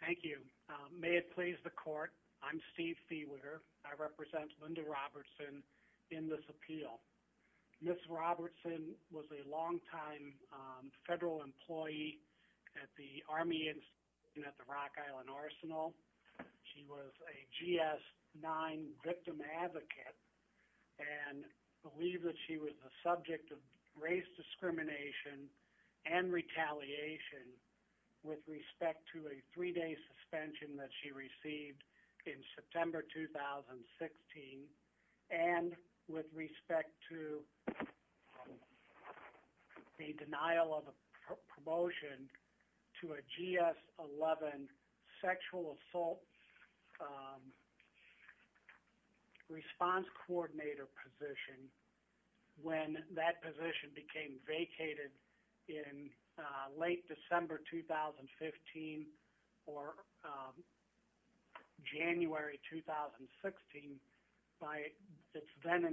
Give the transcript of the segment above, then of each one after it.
Thank you. May it please the court, I'm Steve Fiewiger. I represent Linda Robertson in this appeal. Ms. Robertson was a long-time federal employee at the Army Institution at the Rock and believed that she was a subject of race discrimination and retaliation with respect to a three-day suspension that she received in September 2016 and with respect to a denial of a promotion to a GS-11 sexual assault response coordinator position when that position became an incumbent, Shirley Nottingham. Ms. Robertson Mr.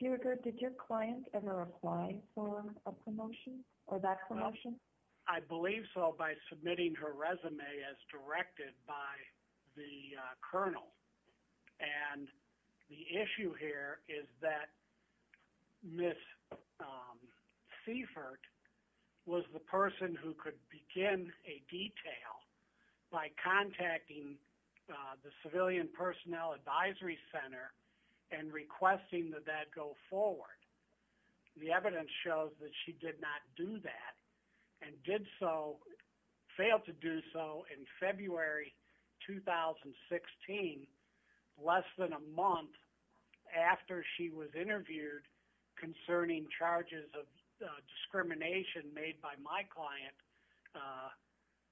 Fiewiger, did your client ever apply for a promotion or that promotion? Mr. Fiewiger I believe so by submitting her resume as directed by the colonel and the by contacting the Civilian Personnel Advisory Center and requesting that that go forward. The evidence shows that she did not do that and did so, failed to do so in February 2016, less than a month after she was interviewed concerning charges of discrimination made by my client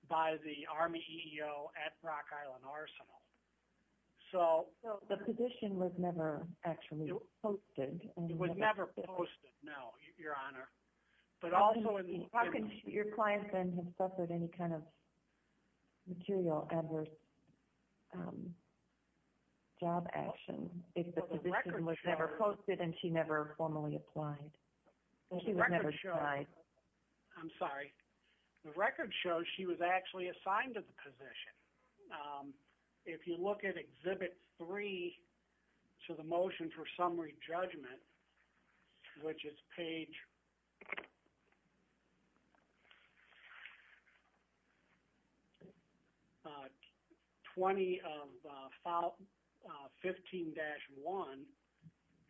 by the Army EEO at Rock Island Arsenal. Ms. Robertson So the position was never actually posted? Mr. Fiewiger It was never posted, no, Your Honor. Ms. Robertson How can your client then have suffered any kind of material adverse job action if the position was never posted and she never formally applied? Mr. Fiewiger I'm sorry, the record shows she was actually assigned to the position. If you look at Exhibit 3 to the Motion for Summary Judgment, which is page 20 of File 15-1,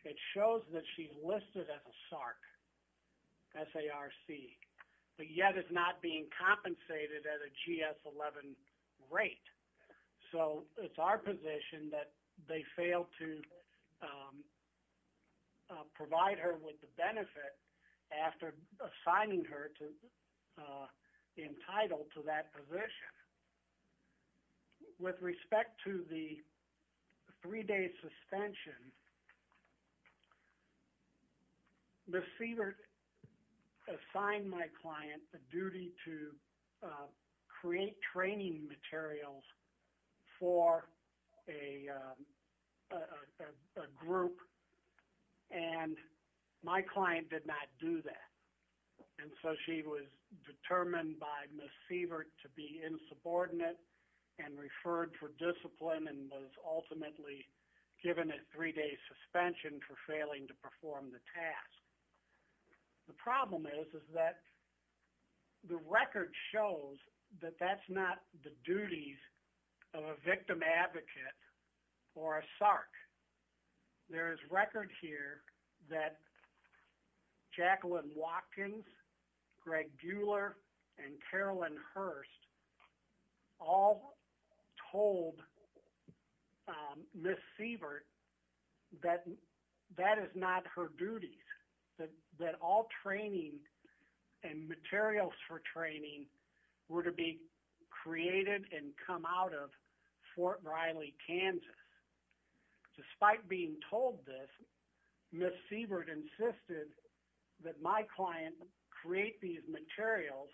it shows that she's listed as a SARC, S-A-R-C, but yet is not being compensated at a GS-11 rate. So it's our position that they failed to provide her with the benefit after assigning her to entitled to that position. With respect to the three-day suspension, Ms. Sievert assigned my client a duty to create training materials for a group and my client did not do that. And so she was determined by Ms. Sievert to be insubordinate and referred for discipline and was ultimately given a three-day suspension for failing to perform the task. The problem is that the record shows that that's not the duties of a victim advocate or a SARC. There is record here that Jacqueline Watkins, Greg Buehler, and Carolyn Hurst all told Ms. Sievert that that is not her duties, that all training and materials for training were to be created and come out of Fort Riley, Kansas. Despite being told this, Ms. Sievert insisted that my client create these materials,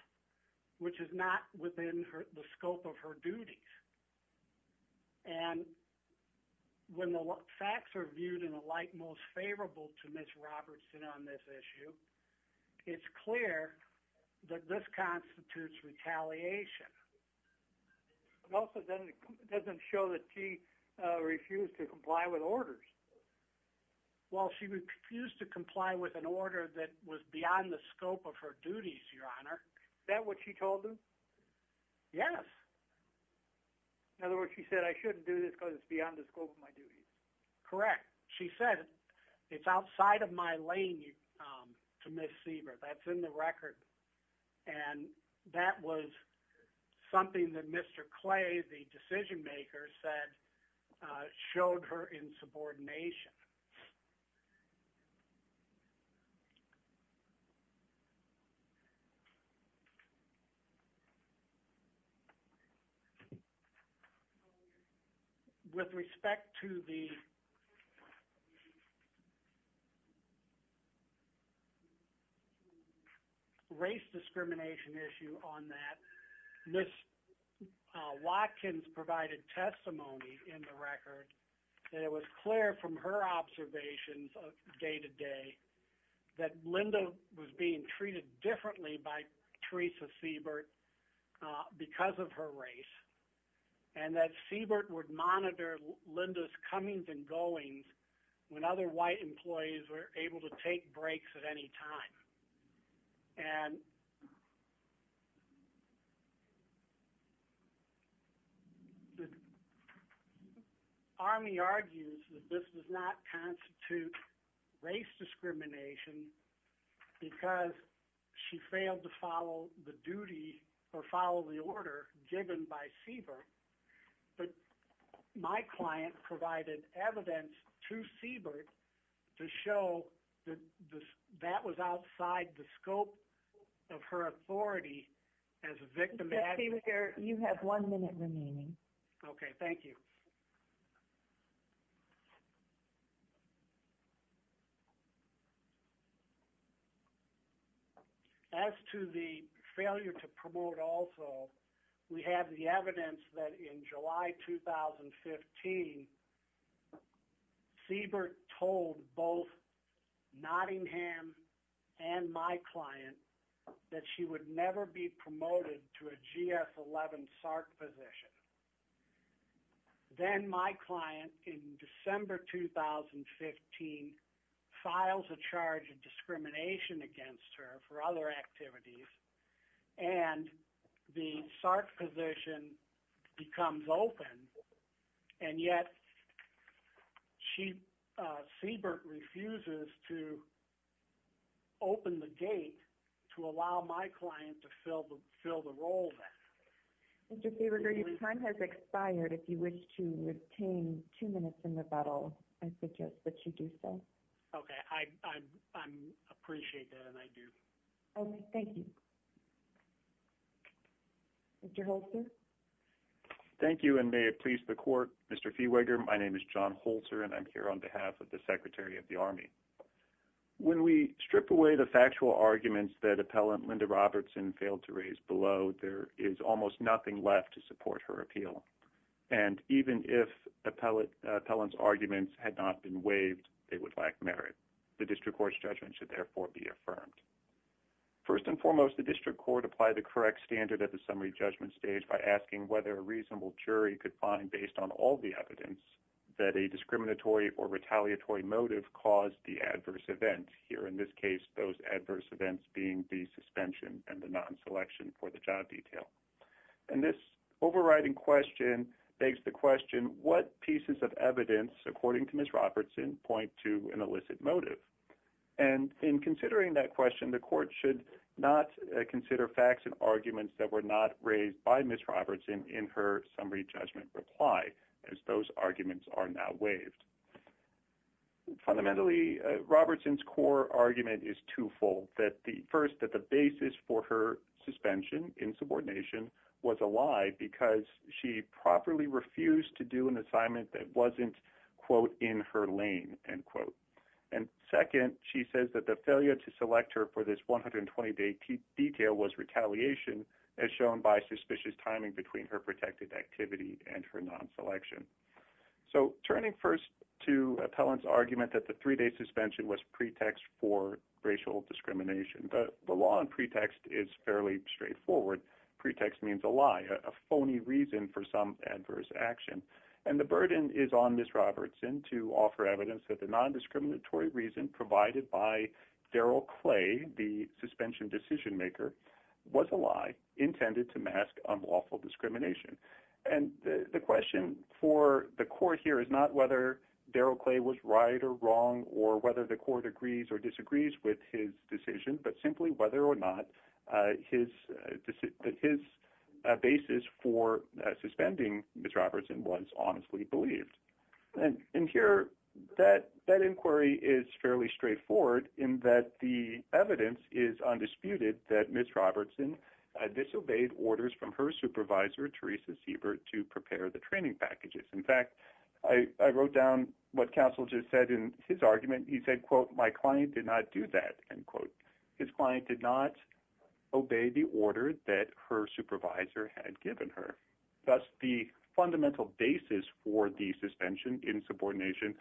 which is not within the scope of her duties. And when the facts are viewed in a light most favorable to Ms. Robertson on this issue, it's clear that this constitutes retaliation. It also doesn't show that she refused to comply with orders. While she refused to comply with an order that was beyond the scope of her duties, Your Honor, is that what she told them? Yes. In other words, she said I shouldn't do this because it's beyond the scope of my duties. Correct. She said it's outside of my lane to Ms. Sievert. That's in the record. And that was something that Mr. Clay, the decision maker, said showed her insubordination. With respect to the race discrimination issue on that, Ms. Watkins provided testimony in the record that it was clear from her observations day to day that Linda was being treated differently by Teresa Sievert because of her race, and that Sievert would monitor Linda's comings and goings when other white employees were able to take breaks at any time. And the Army argues that this does not constitute race discrimination because she failed to follow the duty or follow the order given by Sievert, but my client provided evidence to Sievert to show that that was outside the scope of her authority as a victim. Mr. Sievert, you have one minute remaining. Okay. Thank you. As to the failure to promote also, we have the evidence that in July 2015, Sievert told both Nottingham and my client that she would never be promoted to a GS-11 SART position. Then my client, in December 2015, files a charge of discrimination against her for other activities, and the SART position becomes open, and yet Sievert refuses to open the gate to allow my client to fill the role then. Mr. Feweger, your time has expired. If you wish to retain two minutes in rebuttal, I suggest that you do so. Okay. I appreciate that, and I do. Okay. Thank you. Mr. Holzer? Thank you, and may it please the Court. Mr. Feweger, my name is John Holzer, and I'm here on behalf of the Secretary of the Army. When we strip away the factual arguments that Appellant Linda Robertson failed to raise below, there is almost nothing left to support her appeal. And even if Appellant's arguments had not been waived, they would lack merit. The District Court's judgment should therefore be affirmed. First and foremost, the District Court applied the correct standard at the summary judgment stage by asking whether a reasonable jury could find, based on all the evidence, that a discriminatory or retaliatory motive caused the adverse event. Here, in this case, those adverse events being the suspension and the non-selection for the job detail. And this overriding question begs the question, what pieces of evidence, according to Ms. Robertson, point to an illicit motive? And in considering that question, the Court should not consider facts and arguments that were not raised by Ms. Robertson in her summary judgment reply, as those arguments are now waived. Fundamentally, Robertson's core argument is twofold. First, that the basis for her suspension in subordination was a lie because she properly refused to do an assignment that wasn't, quote, in her lane, end quote. And second, she says that the failure to select her for this 120-day detail was retaliation, as shown by suspicious timing between her protected activity and her non-selection. So, turning first to Appellant's argument that the three-day suspension was pretext for racial discrimination. The law in pretext is fairly straightforward. Pretext means a lie, a phony reason for some adverse action. And the burden is on Ms. Robertson to offer evidence that the non-discriminatory reason provided by Daryl Clay, the suspension decision-maker, was a lie intended to mask unlawful discrimination. And the question for the court here is not whether Daryl Clay was right or wrong or whether the court agrees or disagrees with his decision, but simply whether or not his basis for suspending Ms. Robertson was honestly believed. And here, that inquiry is fairly straightforward in that the evidence is undisputed that Ms. Robertson disobeyed orders from her supervisor, Teresa Siebert, to prepare the training packages. In fact, I wrote down what Counsel just said in his argument. He said, quote, my client did not do that, end quote. His client did not obey the order that her supervisor had given her. Thus, the fundamental basis for the suspension in subordination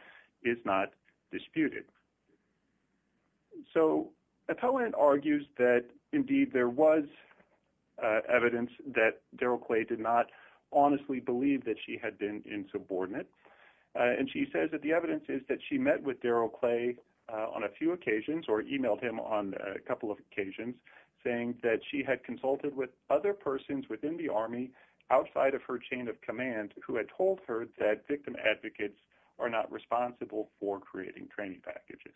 is not disputed. So Appellant argues that, indeed, there was evidence that Daryl Clay did not honestly believe that she had been insubordinate. And she says that the evidence is that she met with Daryl Clay on a few occasions or emailed him on a couple of occasions saying that she had consulted with other persons within the Army outside of her chain of command who had told her that victim advocates are not responsible for creating training packages.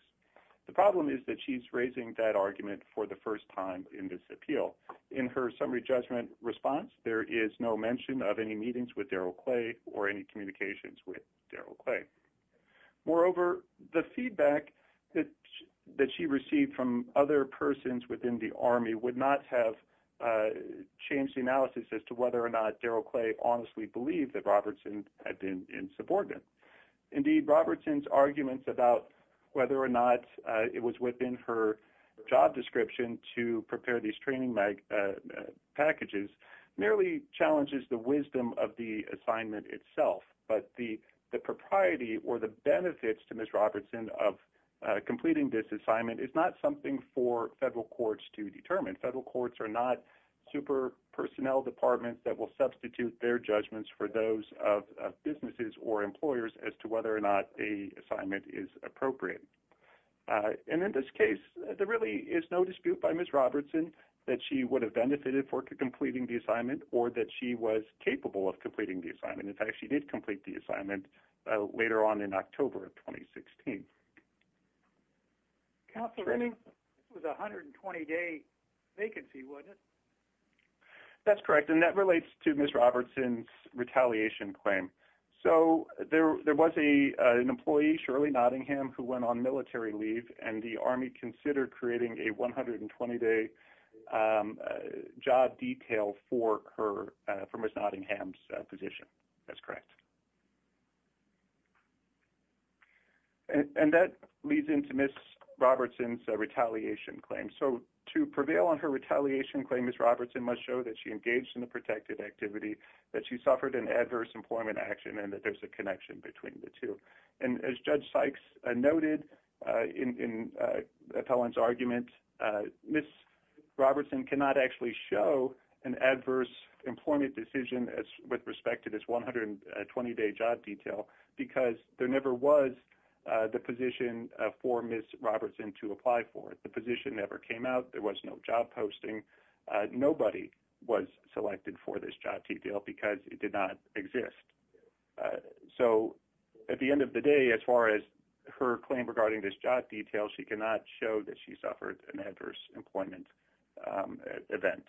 The problem is that she's raising that argument for the first time in this appeal. In her summary judgment response, there is no mention of any meetings with Daryl Clay or any communications with Daryl Clay. Moreover, the feedback that she received from other persons within the Army would not have changed the analysis as to whether or not Daryl Clay honestly believed that Robertson had been insubordinate. Indeed, Robertson's arguments about whether or not it was within her job description to prepare these training packages merely challenges the wisdom of the assignment itself. But the propriety or the benefits to Ms. Robertson of completing this assignment is not something for federal courts to determine. Federal courts are not super personnel departments that will substitute their judgments for those of businesses or employers as to whether or not the assignment is appropriate. And in this case, there really is no dispute by Ms. Robertson that she would have benefited for completing the assignment or that she was capable of completing the assignment. In fact, she did complete the assignment later on in October of 2016. Counselor Renning? This was a 120-day vacancy, wasn't it? That's correct, and that relates to Ms. Robertson's retaliation claim. So there was an employee, Shirley Nottingham, who went on military leave, and the Army considered creating a 120-day job detail for Ms. Nottingham's position. That's correct. And that leads into Ms. Robertson's retaliation claim. So to prevail on her retaliation claim, Ms. Robertson must show that she engaged in a protected activity, that she suffered an adverse employment action, and that there's a connection between the two. And as Judge Sykes noted in Appellant's argument, Ms. Robertson cannot actually show an adverse employment decision with respect to this 120-day job detail because there never was the position for Ms. Robertson to apply for it. The position never came out. There was no job posting. Nobody was selected for this job detail because it did not exist. So at the end of the day, as far as her claim regarding this job detail, she cannot show that she suffered an adverse employment event.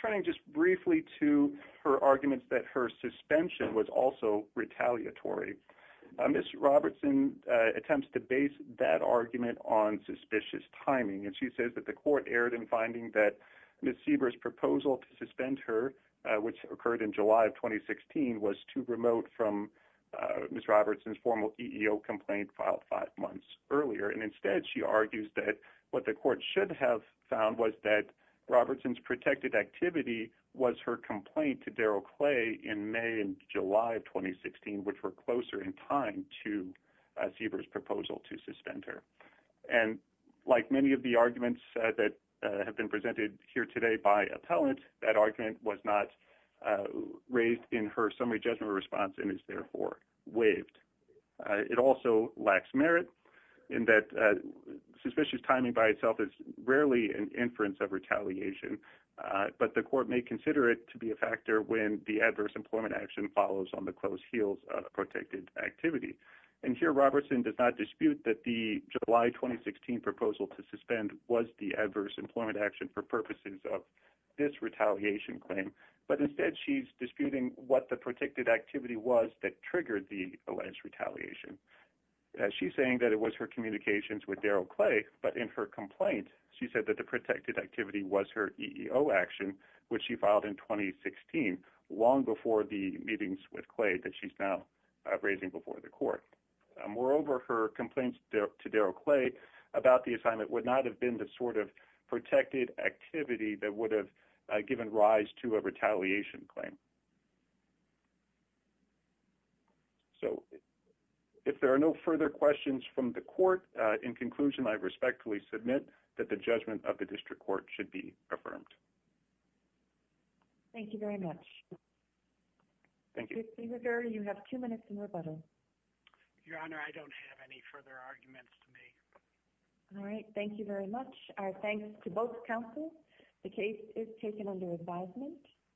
Turning just briefly to her arguments that her suspension was also retaliatory, Ms. Robertson attempts to base that argument on suspicious timing, and she says that the court erred in finding that Ms. Sieber's proposal to suspend her, which occurred in July of 2016, was too remote from Ms. Robertson's formal EEO complaint filed five months earlier. And instead, she argues that what the court should have found was that Robertson's protected activity was her complaint to Daryl Clay in May and July of 2016, which were closer in time to Sieber's proposal to suspend her. And like many of the arguments that have been presented here today by appellant, that argument was not raised in her summary judgment response and is therefore waived. It also lacks merit in that suspicious timing by itself is rarely an inference of retaliation, but the court may consider it to be a factor when the adverse employment action follows on the close heels of protected activity. And here, Robertson does not dispute that the July 2016 proposal to suspend was the adverse employment action for purposes of this retaliation claim, but instead she's disputing what the protected activity was that triggered the alleged retaliation. She's saying that it was her communications with Daryl Clay, but in her complaint, she said that the protected activity was her EEO action, which she filed in 2016, long before the meetings with Clay that she's now raising before the court. Moreover, her complaints to Daryl Clay about the assignment would not have been the sort of protected activity that would have given rise to a retaliation claim. So, if there are no further questions from the court, in conclusion, I respectfully submit that the judgment of the district court should be affirmed. Thank you very much. Thank you. You have two minutes in rebuttal. Your Honor, I don't have any further arguments to make. All right. Thank you very much. Our thanks to both counsels. The case is taken under advisement.